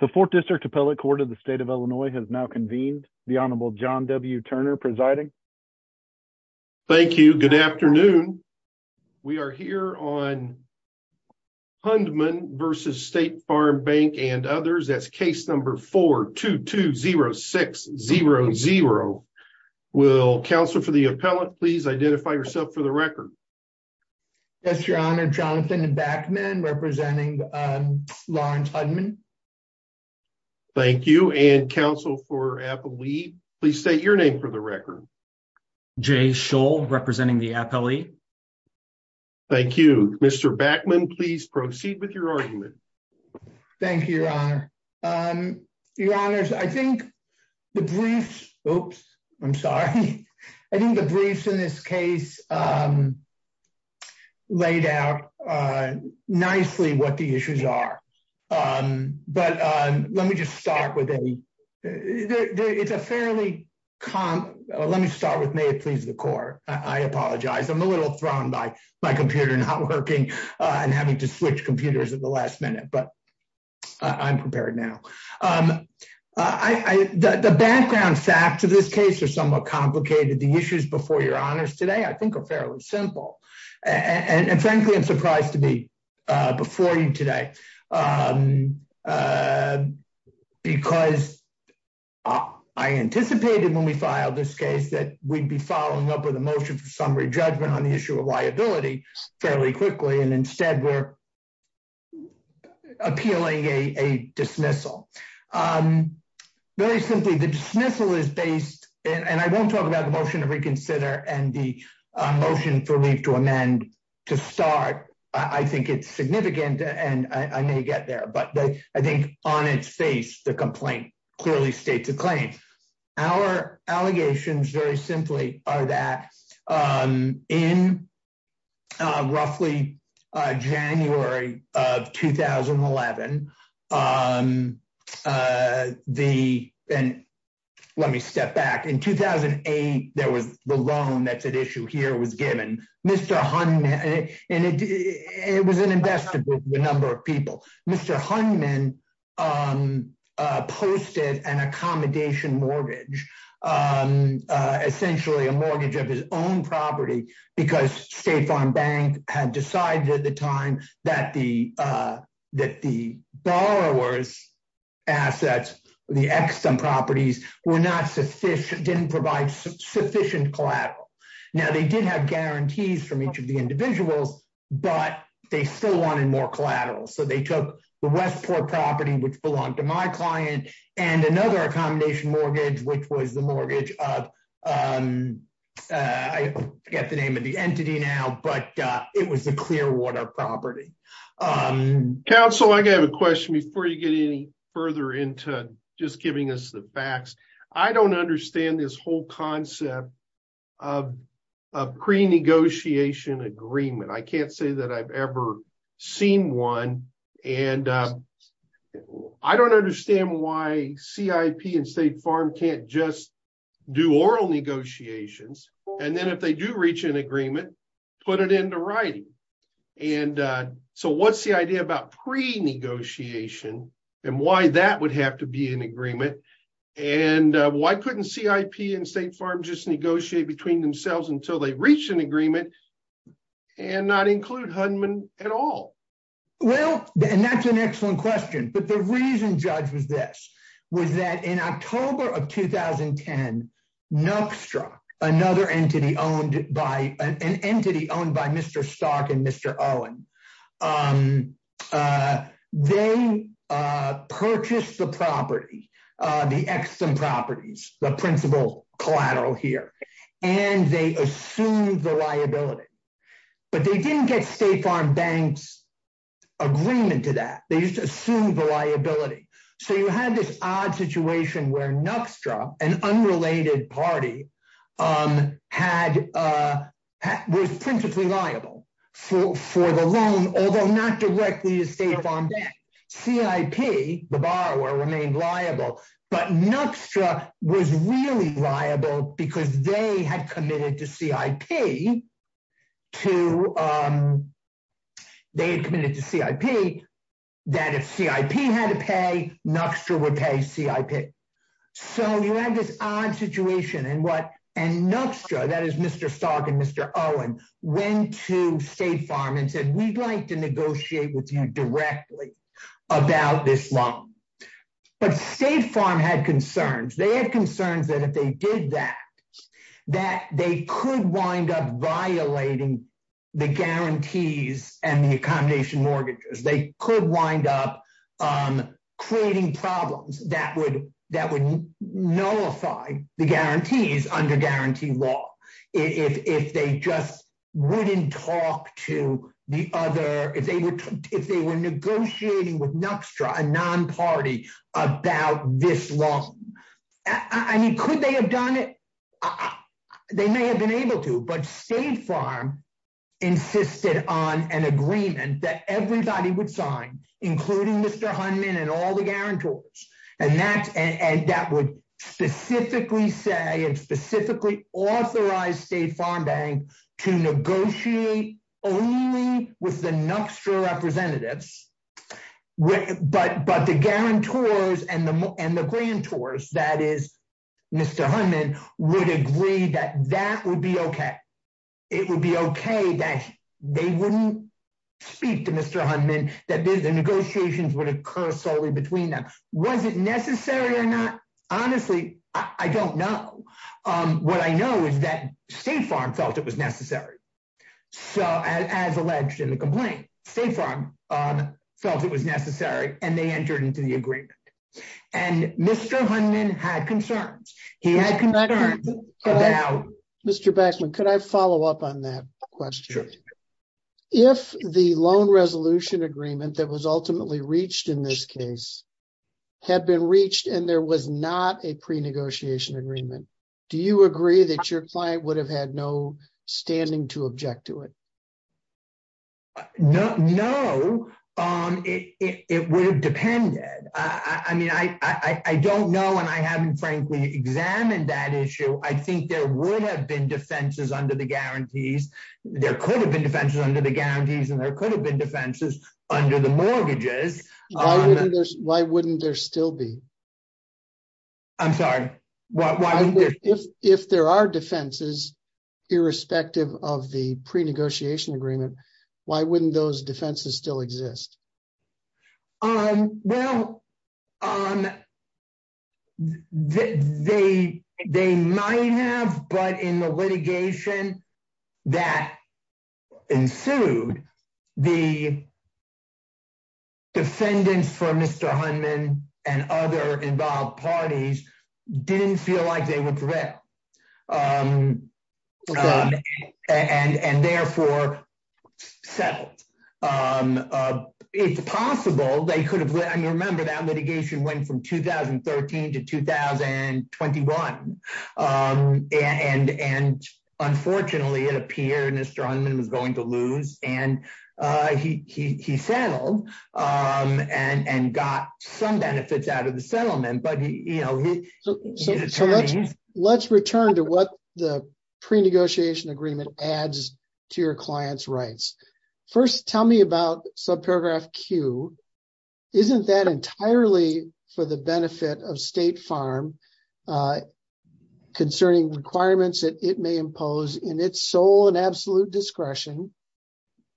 The 4th District Appellate Court of the State of Illinois has now convened. The Honorable John W. Turner presiding. Thank you. Good afternoon. We are here on Hundman versus State Farm Bank and others. That's case number 4-2-2-0-6-0-0. Will counsel for the appellate please identify yourself for the record. Yes, Your Honor. Jonathan Backman representing Lawrence Hundman. Thank you. And counsel for appellate please state your name for the record. Jay Scholl representing the appellate. Thank you. Mr. Backman, please proceed with your argument. Thank you, Your Honor. Your Honors, I think the briefs, oops, I'm sorry. I think the briefs in this case laid out nicely what the issues are. But let me just start with a, it's a fairly, let me start with may it please the court. I apologize. I'm a little thrown by my computer not working and having to switch computers at the last minute, but I'm prepared now. I, the background facts of this case are somewhat complicated. The issues before Your Honors today, I think are fairly simple. And frankly, I'm surprised to be before you today because I anticipated when we filed this case that we'd be following up with a motion for summary judgment on the issue of liability fairly quickly. And instead we're appealing a dismissal. Very simply the dismissal is based, and I won't talk about the motion to reconsider and the motion for me to amend to start. I think it's significant and I may get there, but I think on its face, the complaint clearly states a claim. Our allegations very simply are that in roughly January of 2011, the, and let me step back. In 2008, there was the loan that's at issue here was given. Mr. Hunman, and it was an investment with a number of people. Mr. Hunman posted an accommodation mortgage, essentially a mortgage of his own property, because State Farm Bank had decided at the time that the borrowers' assets, the extant properties were not sufficient, didn't provide sufficient collateral. Now, they did have guarantees from each of the individuals, but they still wanted more collateral. So they took the Westport property, which belonged to my client, and another accommodation mortgage, which was the mortgage of, I forget the name of the entity now, but it was a Clearwater property. Counsel, I have a question before you get any further into just giving us the facts. I don't understand this whole concept of pre-negotiation agreement. I can't say that I've ever seen one. And I don't understand why CIP and State Farm can't just do oral negotiations. And then if they do reach an agreement, put it into writing. And so what's the idea about pre-negotiation and why that would have to be an agreement? And why couldn't CIP and State Farm just negotiate between themselves until they reach an agreement and not include Hudman at all? Well, and that's an excellent question. But the reason, Judge, was this, was that in October of 2010, Nuckstruck, another entity owned by an entity owned by Mr. Stark and Mr. Owen, they purchased the property, the extant properties, the principal collateral here, and they assumed the liability. But they didn't get State Farm Bank's agreement to that. They just assumed the liability. So you had this odd situation where Nuckstruck, an unrelated party, was principally liable for the loan, although not directly to State Farm Bank. CIP, the borrower, remained liable. But Nuckstruck was really liable because they had committed to CIP that if CIP had to pay, Nuckstruck would pay CIP. So you had this odd situation. And Nuckstruck, that is Mr. Stark and Mr. Owen, went to State Farm and said, we'd like to negotiate with you directly about this loan. But State Farm had concerns. They had concerns that if they did that, that they could wind up violating the guarantees and the under-guarantee law. If they just wouldn't talk to the other, if they were negotiating with Nuckstruck, a non-party, about this loan. I mean, could they have done it? They may have been able to, but State Farm insisted on an agreement that everybody would sign, including Mr. Hunman and all the guarantors. And that would specifically say, and specifically authorize State Farm Bank to negotiate only with the Nuckstruck representatives. But the guarantors and the grantors, that is Mr. Hunman, would agree that that would be okay. It would be okay that they speak to Mr. Hunman, that the negotiations would occur solely between them. Was it necessary or not? Honestly, I don't know. What I know is that State Farm felt it was necessary. So as alleged in the complaint, State Farm felt it was necessary and they entered into the agreement. And Mr. Hunman had concerns. He had concerns about... Mr. Backman, could I follow up on that question? Sure. If the loan resolution agreement that was ultimately reached in this case had been reached and there was not a pre-negotiation agreement, do you agree that your client would have had no standing to object to it? No, it would have depended. I mean, I don't know, and I haven't frankly examined that issue. I think there would have been defenses under the guarantees. There could have been defenses under the guarantees and there could have been defenses under the mortgages. Why wouldn't there still be? I'm sorry, why wouldn't there still be? If there are defenses irrespective of the pre-negotiation agreement, why wouldn't those defenses still exist? Well, they might have, but in the litigation that ensued, the defendants for Mr. Hunman and other involved parties didn't feel like they would prevail. Okay. And therefore, settled. It's possible they could have... I mean, remember that litigation went from 2013 to 2021 and unfortunately it appeared Mr. Hunman was going to lose and he settled and got some benefits out of the settlement, but you know... So let's return to what the pre-negotiation agreement adds to your client's rights. First, tell me about subparagraph Q. Isn't that entirely for the benefit of State Farm concerning requirements that it may impose in its sole and absolute discretion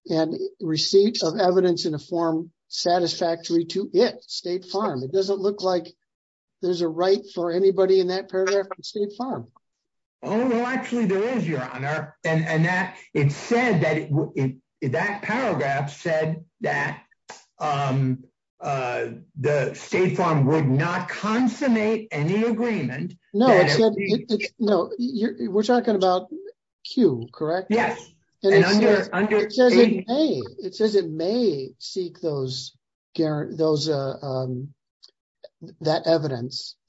and receipt of evidence in a form satisfactory to it, State Farm? It doesn't look like there's a right for anybody in that paragraph on State Farm. Oh, no, actually there is, Your Honor. And that paragraph said that the State Farm would not consummate any agreement. No, we're talking about Q, correct? Yes. And under...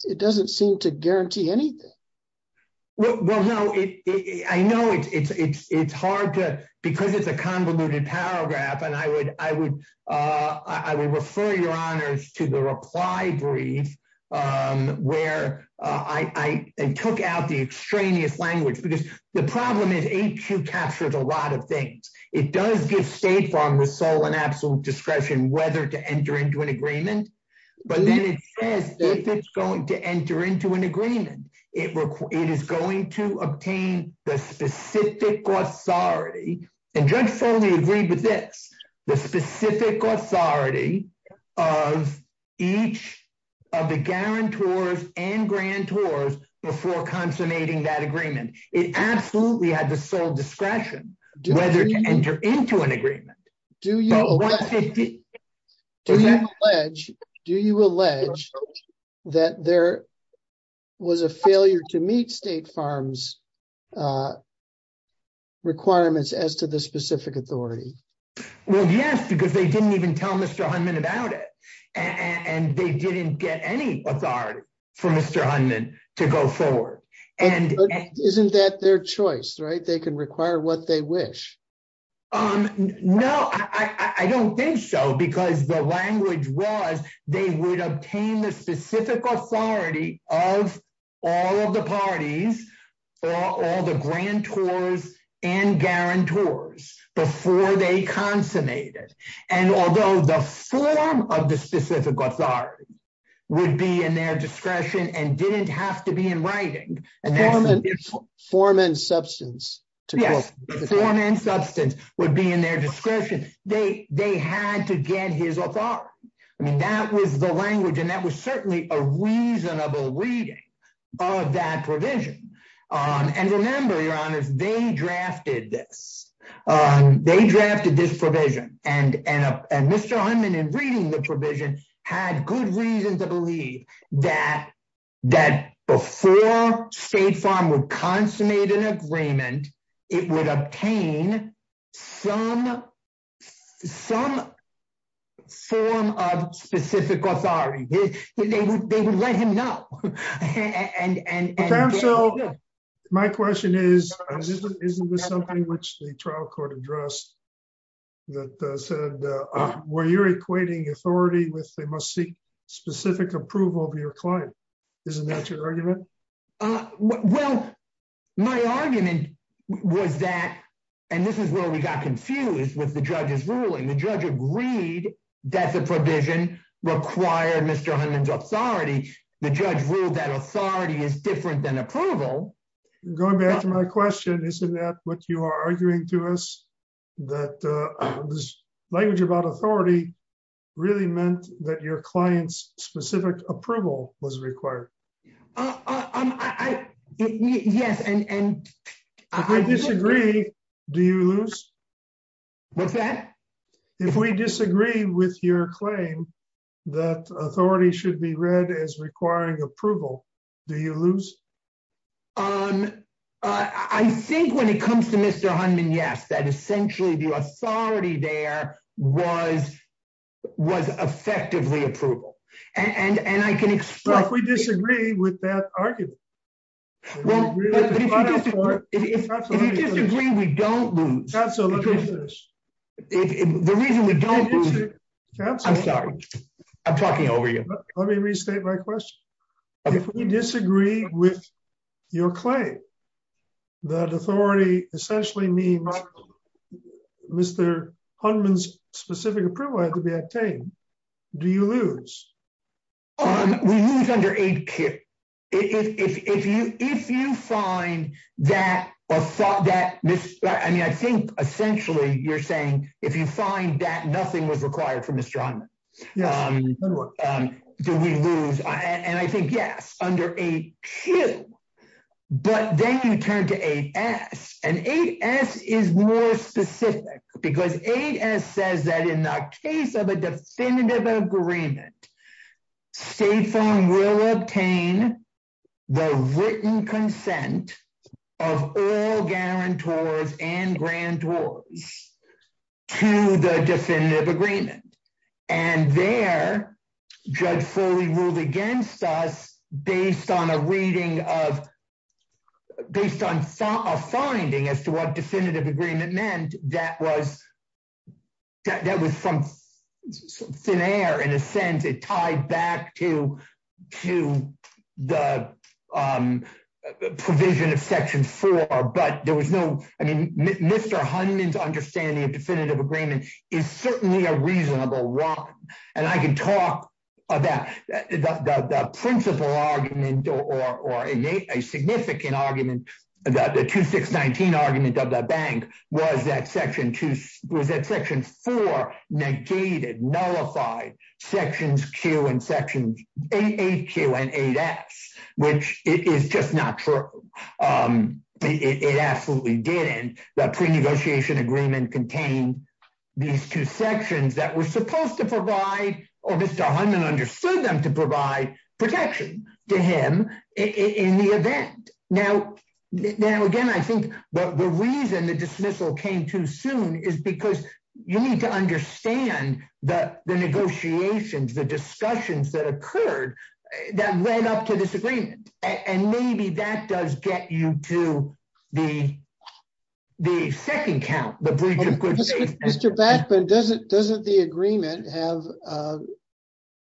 It doesn't seem to guarantee anything. Well, no, I know it's hard to... Because it's a convoluted paragraph and I would refer your honors to the reply brief where I took out the extraneous language because the problem is AQ captures a lot of things. It does give State Farm with sole and absolute discretion whether to enter into an agreement. But then it says if it's going to enter into an agreement, it is going to obtain the specific authority and Judge Foley agreed with this, the specific authority of each of the guarantors and grantors before consummating that agreement. It absolutely had the sole discretion whether to enter into an agreement. Do you allege that there was a failure to meet State Farm's requirements as to the specific authority? Well, yes, because they didn't even tell Mr. Hunman about it and they didn't get any authority for Mr. Hunman to go forward. And isn't that their choice, right? They can require what they wish. No, I don't think so because the language was they would obtain the specific authority of all of the parties or all the grantors and guarantors before they consummated. And although the form of the specific authority would be in their discretion and didn't have to be in writing, the form and substance would be in their discretion. They had to get his authority. I mean, that was the language and that was certainly a reasonable reading of that provision. And remember, Your Honor, they drafted this. They drafted this provision and Mr. Hunman, in reading the provision, had good reason to believe that before State Farm would consummate an agreement, it would obtain some form of specific authority. They would let him know. And so my question is, isn't this something which the trial court addressed that said, were you equating authority with they must seek specific approval of your client? Isn't that your argument? Well, my argument was that, and this is where we got confused with the judge's ruling. The judge agreed that the provision required Mr. Hunman's authority. The judge ruled that authority is different than approval. Going back to my question, isn't that what you are arguing to us, that this language about authority really meant that your client's specific approval was required? Yes, and... If we disagree, do you lose? What's that? If we disagree with your claim that authority should be read as requiring approval, do you lose? I think when it comes to Mr. Hunman, yes, that essentially the authority there was effectively approval. And I can expect... But if we disagree with that argument... Well, but if you disagree, we don't lose. Counsel, let me finish. The reason we don't lose... I'm sorry. I'm talking over you. Let me restate my question. If we disagree with your claim that authority essentially means Mr. Hunman's specific approval had to be obtained, do you lose? We lose under age care. If you find that or thought that... I mean, I think essentially you're saying if you find that nothing was required from Mr. Hunman, do we lose? And I think yes, under 8Q. But then you turn to 8S, and 8S is more specific because 8S says that in the case of a definitive agreement, State Farm will obtain the written consent of all guarantors and grantors to the definitive agreement. And there, Judge Foley ruled against us based on a reading of... That was some thin air in a sense. It tied back to the provision of Section 4. But there was no... I mean, Mr. Hunman's understanding of definitive agreement is certainly a reasonable one. And I can talk about the principal argument or a significant argument about the 2619 argument of the bank was that Section 4 negated, nullified Sections Q and Sections 8Q and 8S, which is just not true. It absolutely didn't. The pre-negotiation agreement contained these two sections that were supposed to provide, or Mr. Hunman understood them provide protection to him in the event. Now, again, I think the reason the dismissal came too soon is because you need to understand the negotiations, the discussions that occurred that led up to this agreement. And maybe that does get you to the second count, the breach of good faith. Mr. Bachman, doesn't the agreement have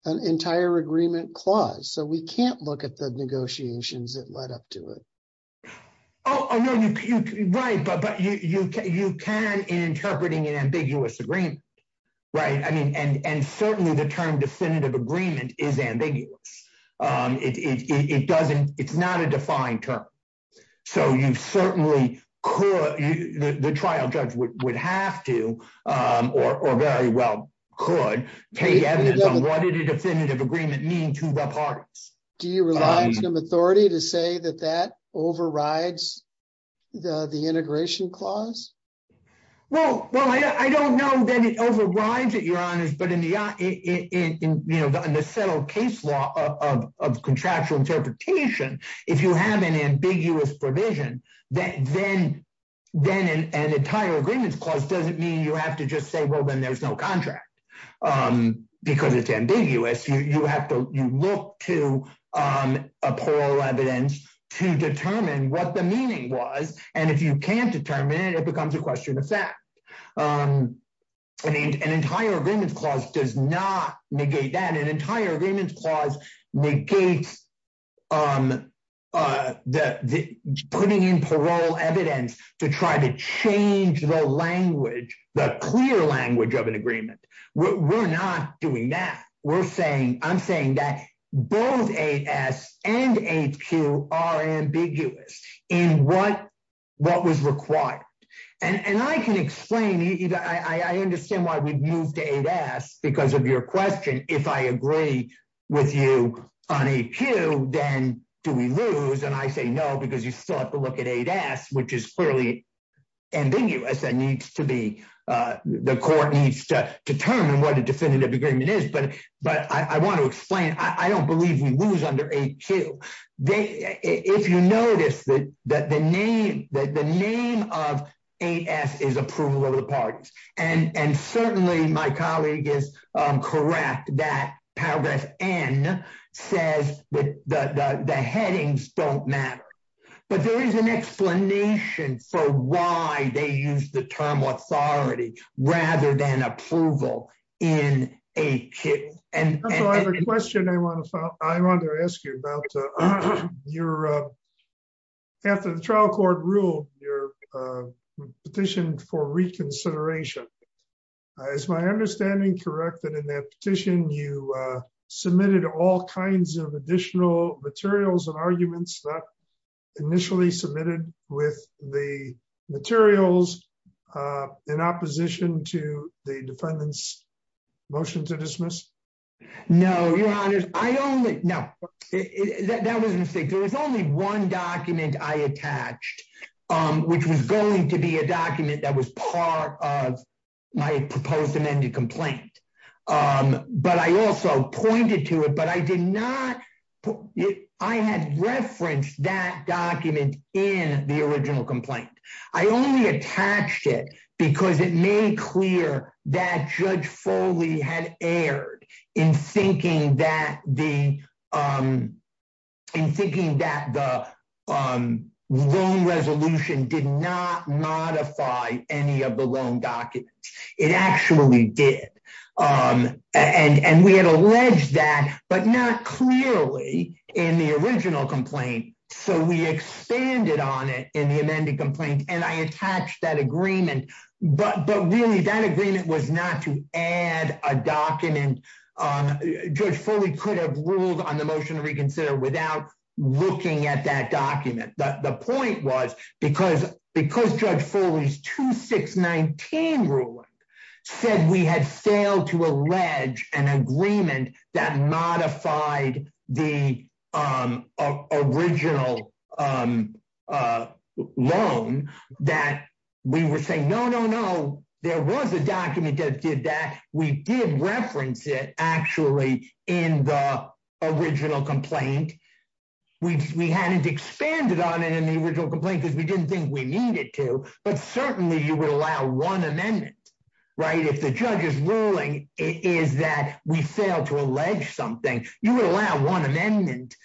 an entire agreement clause? So we can't look at the negotiations that led up to it. Oh, no. Right. But you can in interpreting an ambiguous agreement, right? I mean, and certainly the term definitive agreement is term. So you certainly could, the trial judge would have to, or very well could, take evidence on what did a definitive agreement mean to the parties. Do you rely on some authority to say that that overrides the integration clause? Well, I don't know that it overrides it, but in the settled case law of contractual interpretation, if you have an ambiguous provision, then an entire agreements clause doesn't mean you have to just say, well, then there's no contract because it's ambiguous. You look to a plural evidence to determine what the meaning was. And if you can't determine it, it becomes a question of fact. An entire agreements clause does not negate that. An entire agreements clause negates putting in parole evidence to try to change the language, the clear language of an agreement. We're not doing that. We're saying, I'm saying that both AS and HQ are ambiguous in what was required. And I can explain, I understand why we've moved to AS because of your question. If I agree with you on HQ, then do we lose? And I say no, because you still have to look at AS, which is clearly ambiguous. That needs to be, the court needs to determine what a definitive agreement is. But I want to explain, I don't believe we lose under HQ. If you notice that the name of AS is approval of the parties. And certainly my colleague is correct that paragraph N says that the headings don't matter. But there is an explanation for why they use the term authority rather than approval in HQ. I have a question I wanted to ask you about. After the trial court ruled your petition for reconsideration, is my understanding correct that in that petition you submitted all kinds of additional materials and arguments that initially submitted with the materials in opposition to the defendant's motion to dismiss? No, your honor, I only know that was a mistake. There was only one document I attached, which was going to be a document that was part of my proposed amended complaint. But I also pointed to it, but I did not, I had referenced that document in the original complaint. I only attached it because it made clear that judge Foley had erred in thinking that the, in thinking that the loan resolution did not modify any of the loan documents. It actually did. And we had alleged that, but not clearly in the original complaint. So we expanded on it in the amended complaint, and I attached that agreement, but really that agreement was not to add a document. Judge Foley could have ruled on the motion to reconsider without looking at that document. The point was because judge Foley's 2619 ruling said we had failed to allege an agreement that original loan, that we were saying, no, no, no, there was a document that did that. We did reference it actually in the original complaint. We hadn't expanded on it in the original complaint because we didn't think we needed to, but certainly you would allow one amendment, right? If the judge's ruling is that we failed to allege something, you would allow one amendment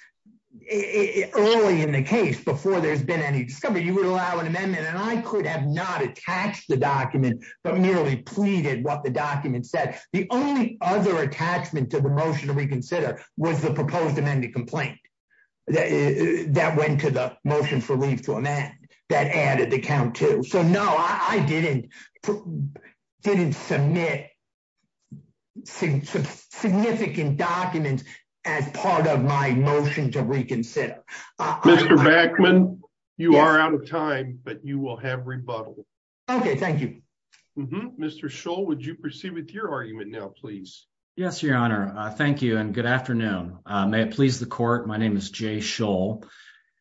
early in the case before there's been any discovery, you would allow an amendment. And I could have not attached the document, but merely pleaded what the document said. The only other attachment to the motion to reconsider was the proposed amended complaint that went to the motion for leave to amend that added the count too. So no, I didn't submit significant documents as part of my motion to reconsider. Mr. Backman, you are out of time, but you will have rebuttal. Okay, thank you. Mr. Scholl, would you proceed with your argument now, please? Yes, your honor. Thank you and good afternoon. May it please the court. My name is Jay Scholl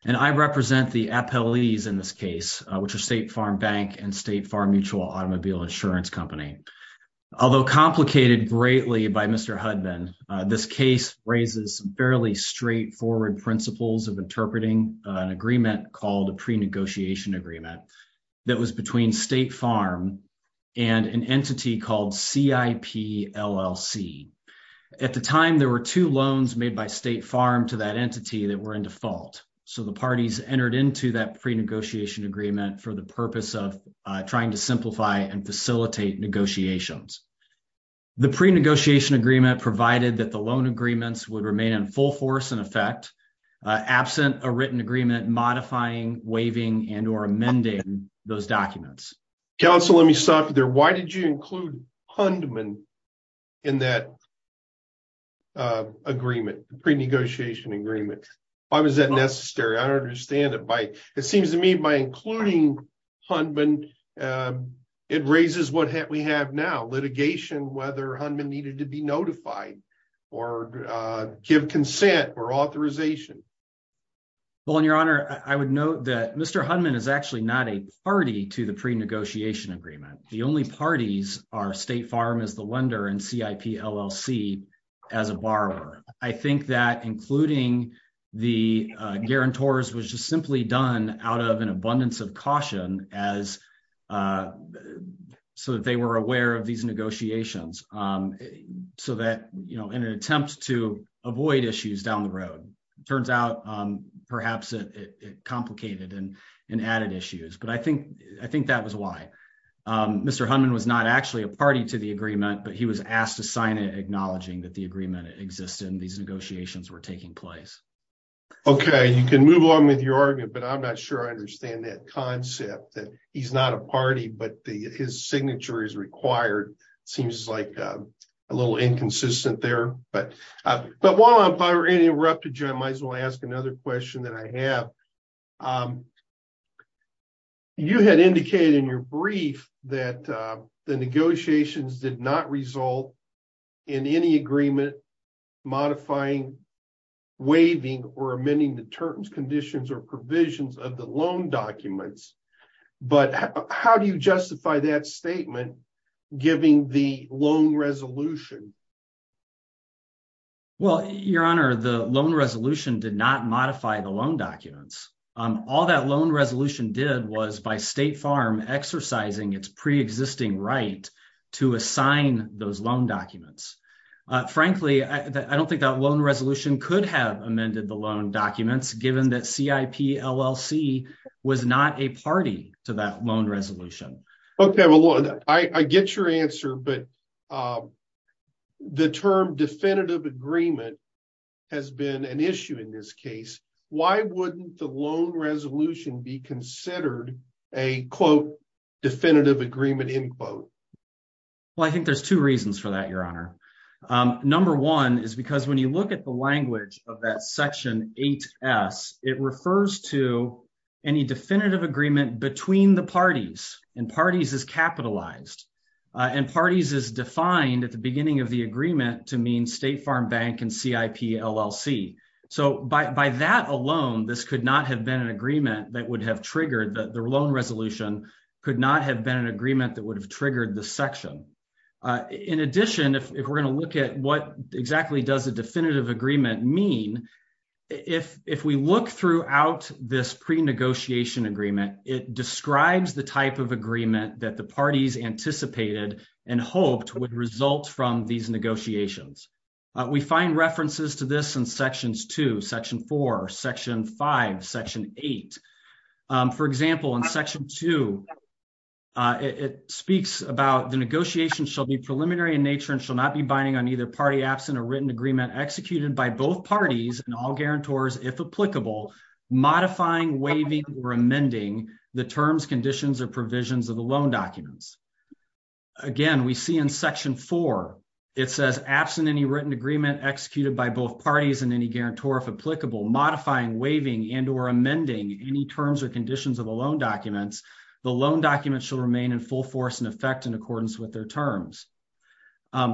and I represent the appellees in this case, which are State Farm Bank and State Farm Mutual Automobile Insurance Company. Although complicated greatly by Mr. Hudbin, this case raises fairly straightforward principles of interpreting an agreement called a pre-negotiation agreement that was between State Farm and an entity called CIP LLC. At the time, there were two loans made by State Farm to that entity that were in default. So the parties entered into that pre-negotiation agreement for the purpose of trying to simplify and facilitate negotiations. The pre-negotiation agreement provided that the loan agreements would remain in full force and effect, absent a written agreement modifying, waiving, and or amending those documents. Counsel, let me stop there. Why did you include Hundman in that agreement, pre-negotiation agreement? Why was that necessary? I don't understand it. It seems to me by including Hundman, it raises what we have now, litigation, whether Hundman needed to be notified or give consent or authorization. Well, in your honor, I would note that Mr. Hundman is actually not a party to the pre-negotiation agreement. The only parties are State Farm as the lender and CIP LLC as a borrower. I think that including the was just simply done out of an abundance of caution so that they were aware of these negotiations so that, you know, in an attempt to avoid issues down the road, it turns out perhaps it complicated and added issues. But I think that was why. Mr. Hundman was not actually a party to the agreement, but he was asked to sign it acknowledging that the agreement existed and these negotiations were taking place. Okay. You can move on with your argument, but I'm not sure I understand that concept that he's not a party, but his signature is required. It seems like a little inconsistent there, but while I'm probably interrupted, Jim, I might as well ask another question that I have. You had indicated in your brief that the negotiations did not result in any agreement modifying, waiving, or amending the terms, conditions, or provisions of the loan documents. But how do you justify that statement giving the loan resolution? Well, your honor, the loan resolution did not modify the loan documents. All that loan documents. Frankly, I don't think that loan resolution could have amended the loan documents given that CIP LLC was not a party to that loan resolution. Okay. Well, I get your answer, but the term definitive agreement has been an issue in this case. Why wouldn't the loan resolution be considered a quote definitive agreement end quote? Well, I think there's two reasons for that, your honor. Number one is because when you look at the language of that section 8S, it refers to any definitive agreement between the parties and parties is capitalized and parties is defined at the beginning of the agreement to mean State Farm Bank and CIP LLC. So by that alone, this could not have been an agreement that would have triggered the loan resolution, could not have been an agreement that would have triggered the section. In addition, if we're going to look at what exactly does a definitive agreement mean, if we look throughout this pre-negotiation agreement, it describes the type of agreement that the parties anticipated and hoped would result from these negotiations. We find references to this in sections 2, section 4, section 5, section 8. For example, in section 2, it speaks about the negotiation shall be preliminary in nature and shall not be binding on either party absent or written agreement executed by both parties and all guarantors, if applicable, modifying, waiving, or amending the terms, conditions, or provisions of the loan documents. Again, we see in section 4, it says absent any written agreement executed by both parties and any guarantor, if applicable, modifying, waiving, and or amending any terms or conditions of the loan documents, the loan documents shall remain in full force and effect in accordance with their terms.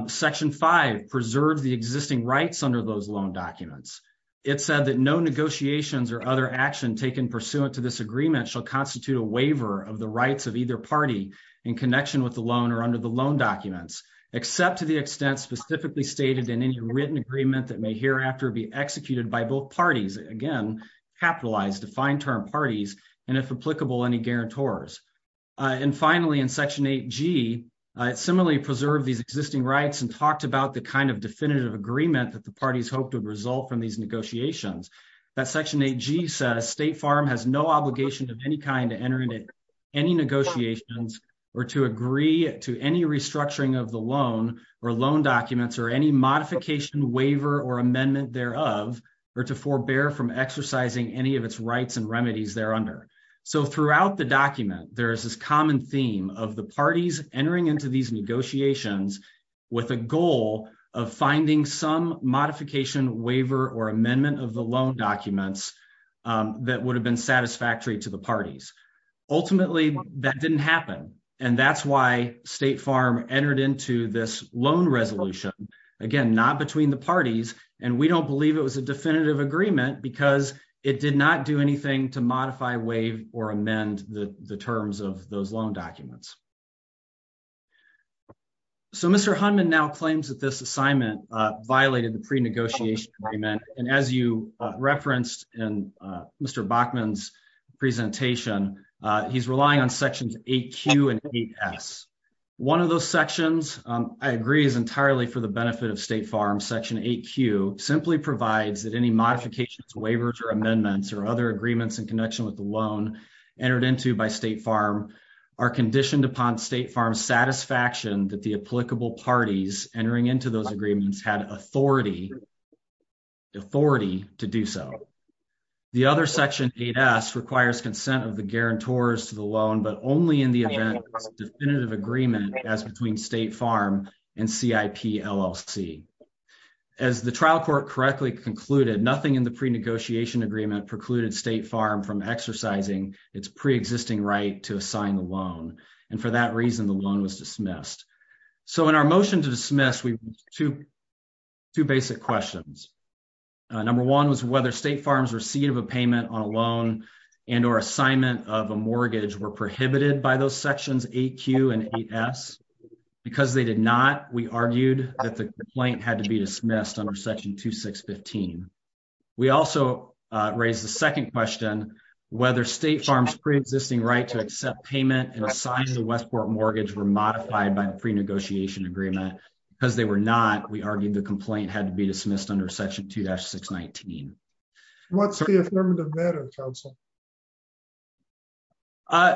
Section 5 preserves the existing rights under those loan documents. It said that no negotiations or other action taken pursuant to this agreement shall constitute a waiver of the rights of either party in connection with the loan or under the loan documents, except to the extent specifically stated in any written agreement that may hereafter be executed by both parties, again, capitalized, defined term parties, and if applicable, any guarantors. And finally, in section 8G, it similarly preserved these existing rights and talked about the kind of definitive agreement that the parties hoped would result from these of any kind to enter into any negotiations or to agree to any restructuring of the loan or loan documents or any modification, waiver, or amendment thereof, or to forbear from exercising any of its rights and remedies thereunder. So throughout the document, there is this common theme of the parties entering into these negotiations with a goal of finding some parties. Ultimately, that didn't happen, and that's why State Farm entered into this loan resolution, again, not between the parties, and we don't believe it was a definitive agreement because it did not do anything to modify, waive, or amend the terms of those loan documents. So Mr. Hunman now claims that this assignment violated the pre-negotiation agreement, and as you referenced in Mr. Bachman's presentation, he's relying on sections 8Q and 8S. One of those sections, I agree, is entirely for the benefit of State Farm. Section 8Q simply provides that any modifications, waivers, or amendments or other agreements in connection with the loan entered into by State Farm are conditioned upon State Farm's satisfaction that applicable parties entering into those agreements had authority to do so. The other section 8S requires consent of the guarantors to the loan, but only in the event it's a definitive agreement as between State Farm and CIP, LLC. As the trial court correctly concluded, nothing in the pre-negotiation agreement precluded State Farm from exercising its pre-existing right to assign the loan, and for that reason the loan was dismissed. So in our motion to dismiss, we have two basic questions. Number one was whether State Farm's receipt of a payment on a loan and or assignment of a mortgage were prohibited by those sections 8Q and 8S. Because they did not, we argued that the complaint had to be dismissed under section 2615. We also raised the second question, whether State Farm's pre-existing right to accept payment and assign the Westport mortgage were modified by the pre-negotiation agreement. Because they were not, we argued the complaint had to be dismissed under section 2-619. What's the affirmative matter, counsel?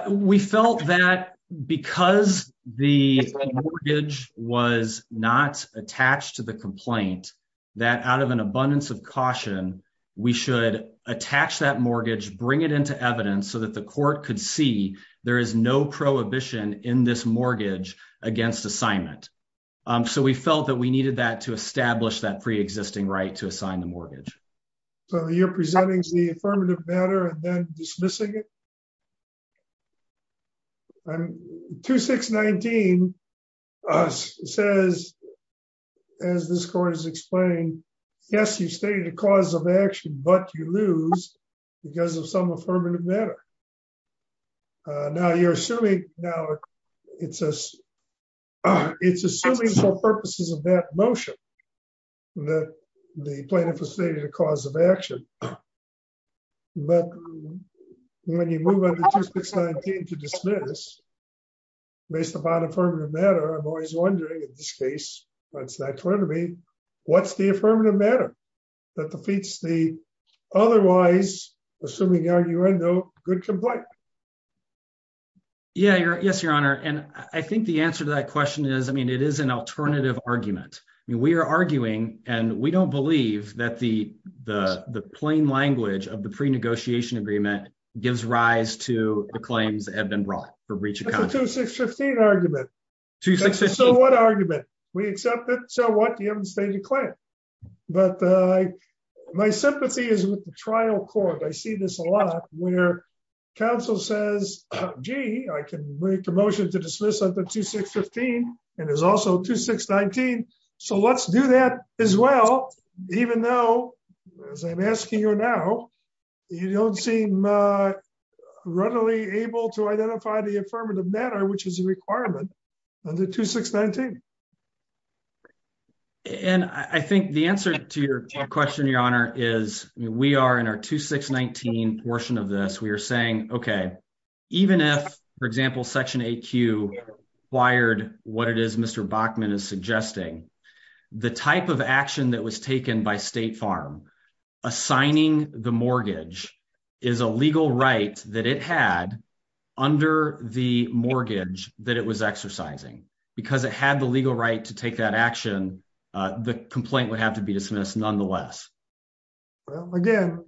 We felt that because the mortgage was not attached to the complaint, that out of an caution, we should attach that mortgage, bring it into evidence so that the court could see there is no prohibition in this mortgage against assignment. So we felt that we needed that to establish that pre-existing right to assign the mortgage. So you're presenting the affirmative matter and then dismissing it? 2-619 says, as this court has explained, yes, you've stated a cause of action, but you lose because of some affirmative matter. Now you're assuming, now it's assuming for purposes of that motion that the plaintiff has stated a cause of action. But when you move on to 2-619 to dismiss, based upon affirmative matter, I'm always wondering, in this case, what's that going to be? What's the affirmative matter that defeats the otherwise, assuming the argument, no good complaint? Yeah, yes, your honor. And I think the answer to that question is, I mean, it is an alternative argument. I mean, we are arguing, and we don't believe that the plain language of the pre-negotiation agreement gives rise to the claims that have been brought for breach of contract. That's a 2-615 argument. So what argument? We accept it, so what? You haven't stated a claim. But my sympathy is with the trial court. I see this a lot where counsel says, gee, I can make a motion to dismiss under 2-615, and there's also 2-619. So let's do that as well, even though, as I'm asking you now, you don't seem readily able to identify the affirmative matter, which is a requirement under 2-619. And I think the answer to your question, your honor, is we are in our 2-619 portion of this. We are saying, okay, even if, for example, Section 8Q required what it is Mr. Bachman is suggesting, the type of action that was taken by State Farm assigning the mortgage is a legal right that it had under the mortgage that it was exercising. Because it had the legal right to take that action, the complaint would have to be dismissed nonetheless. Well, again,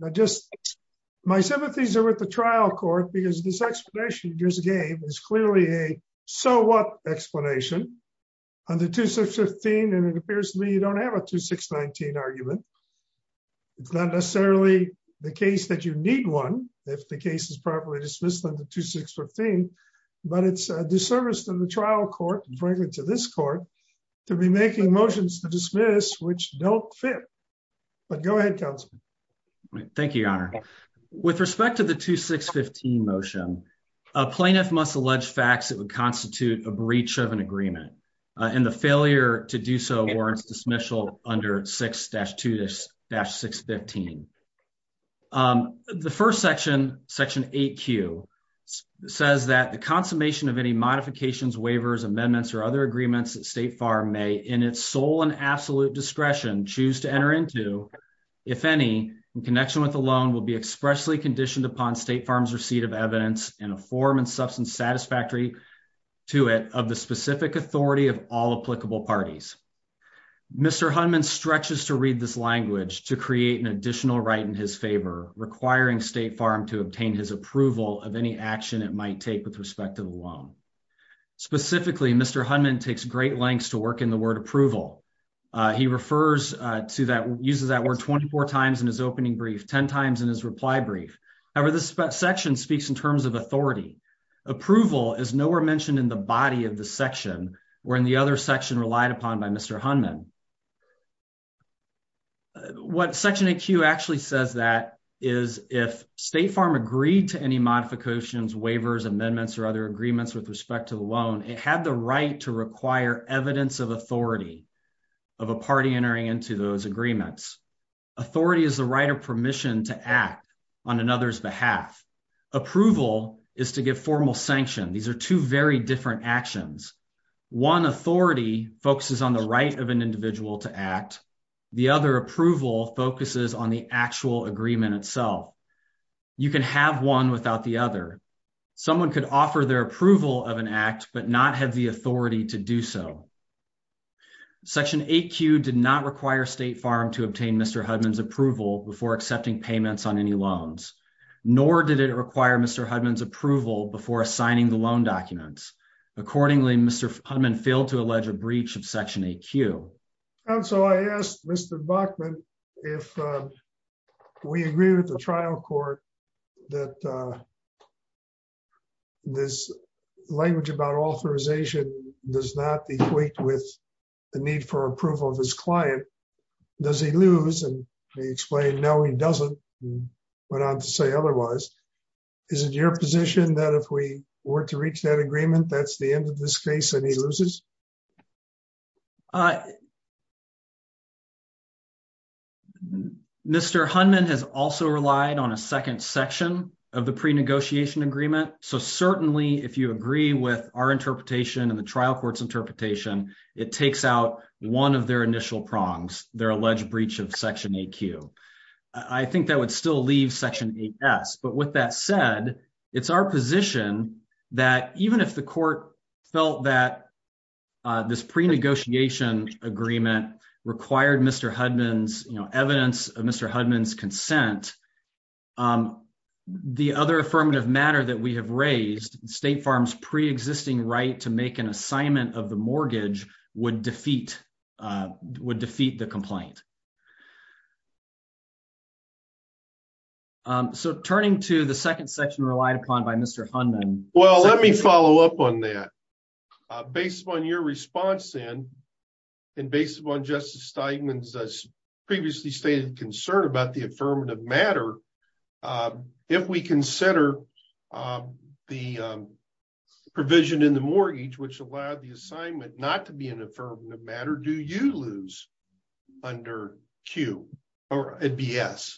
my sympathies are with the trial court, because this explanation you just gave is clearly a so what explanation under 2-615, and it appears to me you don't have a 2-619 argument. It's not necessarily the case that you need one, if the case is properly dismissed under 2-615, but it's a disservice to the trial court, and frankly to this court, to be making motions to dismiss which don't fit. But go ahead, counsel. Thank you, your honor. With respect to the 2-615 motion, a plaintiff must allege facts that would constitute a breach of an agreement, and the failure to do so warrants dismissal under 6-2-615. The first section, Section 8Q, says that the consummation of any modifications, waivers, amendments, or other agreements that State Farm may, in its sole and absolute discretion, choose to enter into, if any, in connection with the loan, will be expressly conditioned upon State Farm's receipt of evidence, in a form and substance satisfactory to it, of the specific authority of all applicable parties. Mr. Hunman stretches to read this language to create an additional right in his favor, requiring State Farm to obtain his approval of any action it might take with respect to the loan. Specifically, Mr. Hunman takes great lengths to work in the word approval. He refers to that, uses that word, 24 times in his opening brief, 10 times in his reply brief. However, this section speaks in terms of authority. Approval is nowhere mentioned in the body of the section, or in the other section relied upon by Mr. Hunman. What Section 8Q actually says that is, if State Farm agreed to any modifications, waivers, amendments, or other agreements with respect to the loan, it had the right to require evidence of authority of a party entering into those agreements. Authority is the right of permission to act on another's behalf. Approval is to give formal sanction. These are two very different actions. One authority focuses on the right of an individual to act. The other approval focuses on the actual agreement itself. You can have one without the other. Someone could offer their approval of an act, but not have the authority to do so. Section 8Q did not require State Farm to obtain Mr. Hunman's approval before accepting payments on any loans, nor did it require Mr. Hunman's approval before assigning the loan documents. Accordingly, Mr. Hunman failed to allege a breach of Section 8Q. And so I asked Mr. Bachman if we agree with the trial court that this language about authorization does not equate with the need for approval of his client, does he lose? And he explained, no, he doesn't. Went on to say otherwise. Is it your position that if we were to reach that agreement, that's the end of this case and he loses? Mr. Hunman has also relied on a second section of the pre-negotiation agreement. So certainly, if you agree with our interpretation and the trial court's interpretation, it takes out one of their initial prongs, their alleged breach of Section 8Q. I think that would still leave Section 8S. But with that said, it's our position that even if the court felt that this pre-negotiation agreement required Mr. Hunman's, you know, evidence of Mr. Hunman's consent, the other affirmative matter that we have raised, State Farm's pre-existing right to make an assignment of the mortgage would defeat the complaint. So turning to the second section relied upon by Mr. Hunman. Well, let me follow up on that. Based upon your response and based upon Justice Steigman's previously stated concern about the mortgage, which allowed the assignment not to be an affirmative matter, do you lose under Q or BS?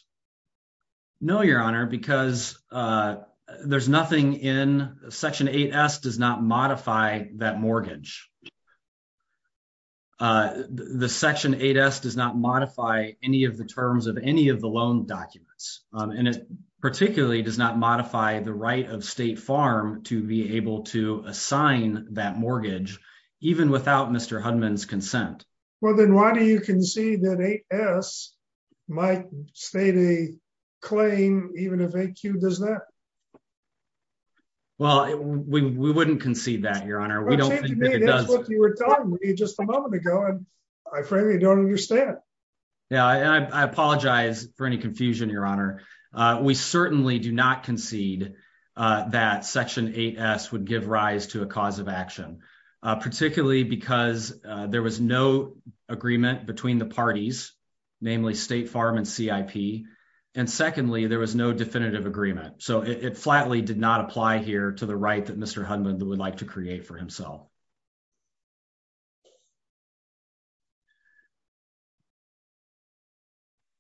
No, Your Honor, because there's nothing in Section 8S does not modify that mortgage. The Section 8S does not modify any of the terms of any of the loan documents. And it particularly does not modify the right of State Farm to be able to assign that mortgage, even without Mr. Hunman's consent. Well, then why do you concede that 8S might state a claim even if 8Q does that? Well, we wouldn't concede that, Your Honor. We don't think that it does. That's what you were telling me just a moment ago, and I frankly don't understand. Yeah, and I apologize for any confusion, Your Honor. We certainly do not concede that Section 8S would give rise to a cause of action, particularly because there was no agreement between the parties, namely State Farm and CIP. And secondly, there was no definitive agreement. So it flatly did not apply here to the right that Mr. Hunman would like to create for himself.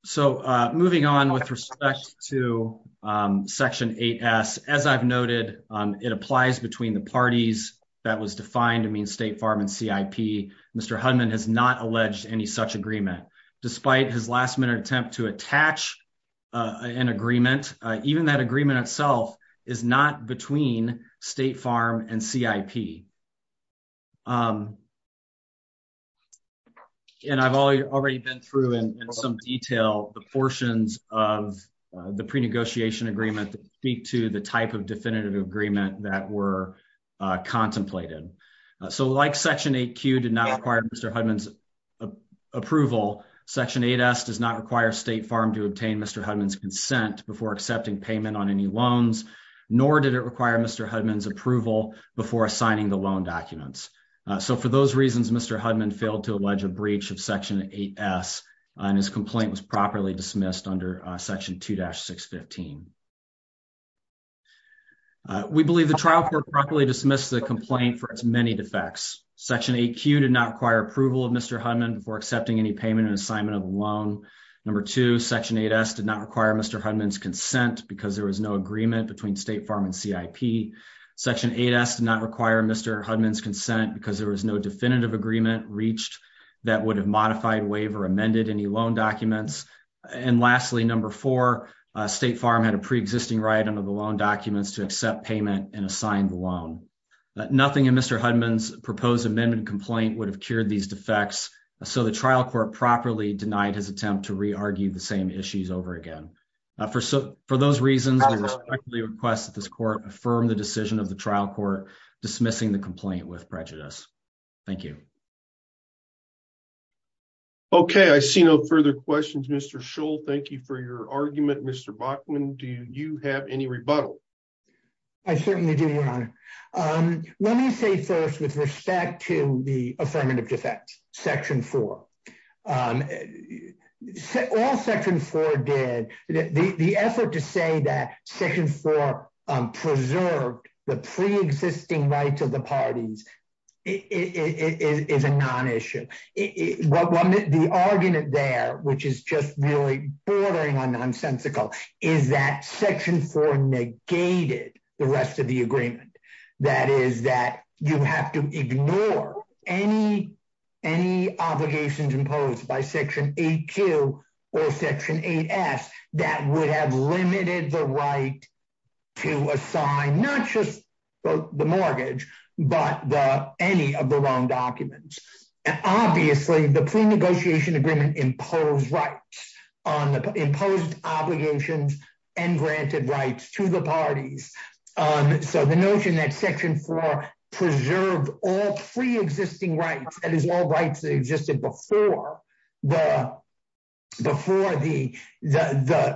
So moving on with respect to Section 8S, as I've noted, it applies between the parties that was defined to mean State Farm and CIP. Mr. Hunman has not alleged any such agreement. Despite his last-minute attempt to attach an agreement, even that agreement itself is not between State Farm and CIP. And I've already been through in some detail the portions of the pre-negotiation agreement that speak to the type of definitive agreement that were contemplated. So like Section 8Q did not require Mr. Hunman's approval, Section 8S does not require State Farm to obtain Mr. Hunman's consent before accepting payment on any loans, nor did it require Mr. Hunman's approval before assigning the loan documents. So for those reasons, Mr. Hunman failed to allege a breach of Section 8S, and his complaint was properly dismissed under Section 2-615. We believe the trial court properly dismissed the complaint for its many defects. Section 8Q did not require approval of Mr. Hunman before accepting any payment and assignment of a loan. Section 8S did not require Mr. Hunman's consent because there was no agreement between State Farm and CIP. Section 8S did not require Mr. Hunman's consent because there was no definitive agreement reached that would have modified, waived, or amended any loan documents. And lastly, number four, State Farm had a pre-existing right under the loan documents to accept payment and assign the loan. Nothing in Mr. Hunman's proposed amendment complaint would have cured these same issues over again. For those reasons, I respectfully request that this court affirm the decision of the trial court dismissing the complaint with prejudice. Thank you. Okay, I see no further questions. Mr. Schull, thank you for your argument. Mr. Bachman, do you have any rebuttal? I certainly do, Your Honor. Let me say first with respect to the Section 4 did, the effort to say that Section 4 preserved the pre-existing rights of the parties is a non-issue. The argument there, which is just really boring and nonsensical, is that Section 4 negated the rest of the agreement. That is that you have to ignore any obligations imposed by Section 8Q or Section 8S that would have limited the right to assign not just the mortgage but any of the loan documents. Obviously, the pre-negotiation agreement imposed rights on the imposed obligations and granted rights to the parties. So the notion that Section 4 preserved all pre-existing rights, that is all rights that existed before the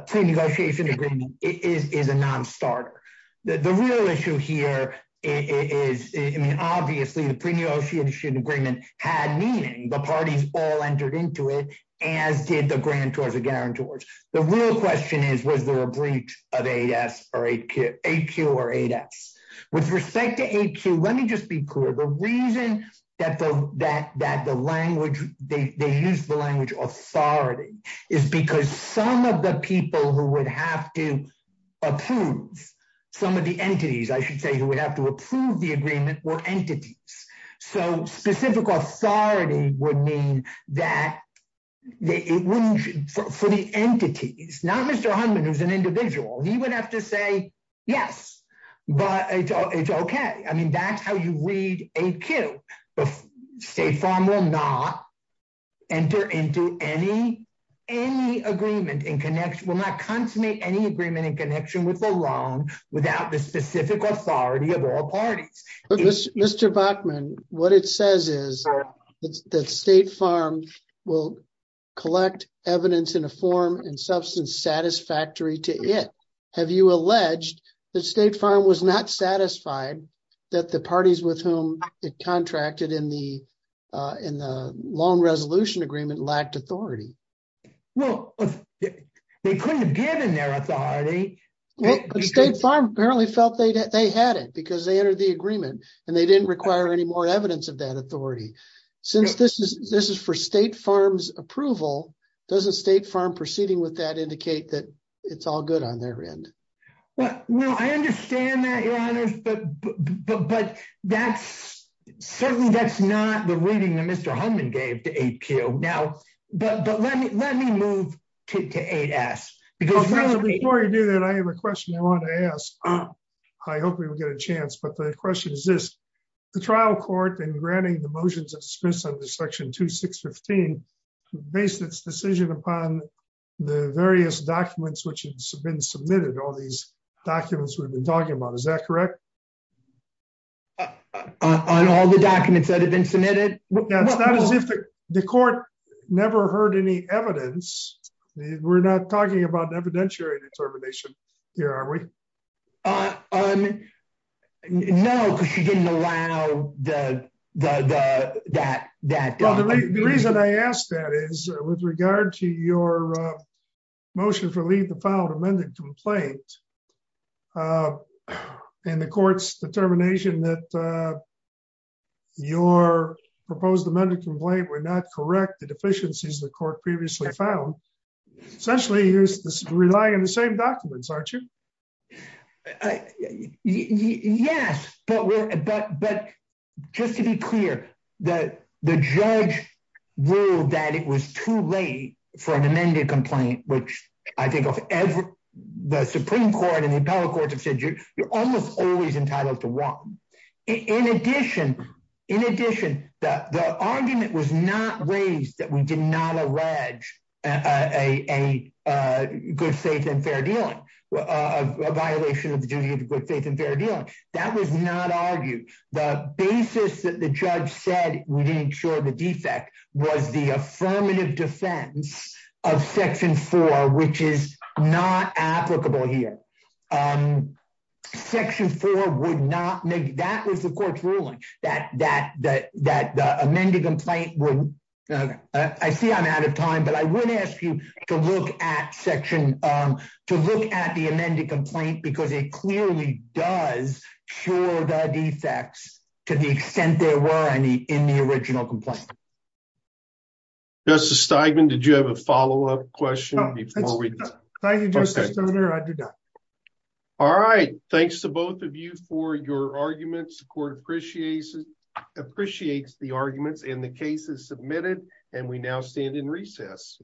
pre-negotiation agreement, is a non-starter. The real issue here is, I mean, obviously the pre-negotiation agreement had meaning. The parties all entered into it, as did the grantors and guarantors. The real question is, was there a breach of 8S or 8Q? Or 8S? With respect to 8Q, let me just be clear. The reason that they used the language authority is because some of the people who would have to approve, some of the entities, I should say, who would have to approve the agreement were entities. So specific authority would mean that for the entities, not Mr. Hunman, who's an individual, he would have to say, yes, but it's okay. I mean, that's how you read 8Q. The State Farm will not enter into any agreement and will not consummate any agreement in connection with the loan without the specific authority of all parties. Mr. Bachman, what it says is that State Farm will collect evidence in a form and substance satisfactory to it. Have you alleged that State Farm was not satisfied that the parties with whom it contracted in the loan resolution agreement lacked authority? Well, they couldn't have given their authority. State Farm apparently felt they had it because they entered the agreement and they didn't require any more evidence of that authority. Since this is for State Farm's approval, doesn't State Farm proceeding with that indicate that it's all good on their end? Well, I understand that, Your Honors, but certainly that's not the reading that Mr. Hunman gave to 8Q. But let me move to 8S. Before you do that, I have a question I want to ask. I hope we will get a chance, but the question is this. The trial court in granting the motions expressed under Section 2615 based its decision upon the various documents which have been submitted, all these documents we've been talking about, is that correct? On all the documents that have been submitted? It's not as if the court never heard any evidence. We're not talking about an evidentiary determination here, are we? No, because you didn't allow that. Well, the reason I ask that is with regard to your motion for leave to file an amended complaint and the court's determination that your proposed amended complaint would not correct the deficiencies the court previously found, essentially you're relying on the same documents, aren't you? Yes, but just to be clear, the judge ruled that it was too late for an amended complaint, which I think of the Supreme Court and the appellate courts have said you're almost always entitled to one. In addition, the argument was not raised that we did not allege a good faith and fair dealing, a violation of the duty of good faith and fair dealing. That was not argued. The basis that the judge said we didn't show the defect was the affirmative defense of Section 4, which is not applicable here. Section 4 would not make, that was the court's ruling, that the amended complaint would, I see I'm out of time, but I would ask you to look at the amended complaint because it clearly does cure the defects to the extent there were any in the original complaint. Thank you, Justice Steigman. Did you have a follow-up question? Thank you, Justice Stoddard, I do not. All right, thanks to both of you for your arguments. The court appreciates the arguments and the case is submitted and we now stand in recess.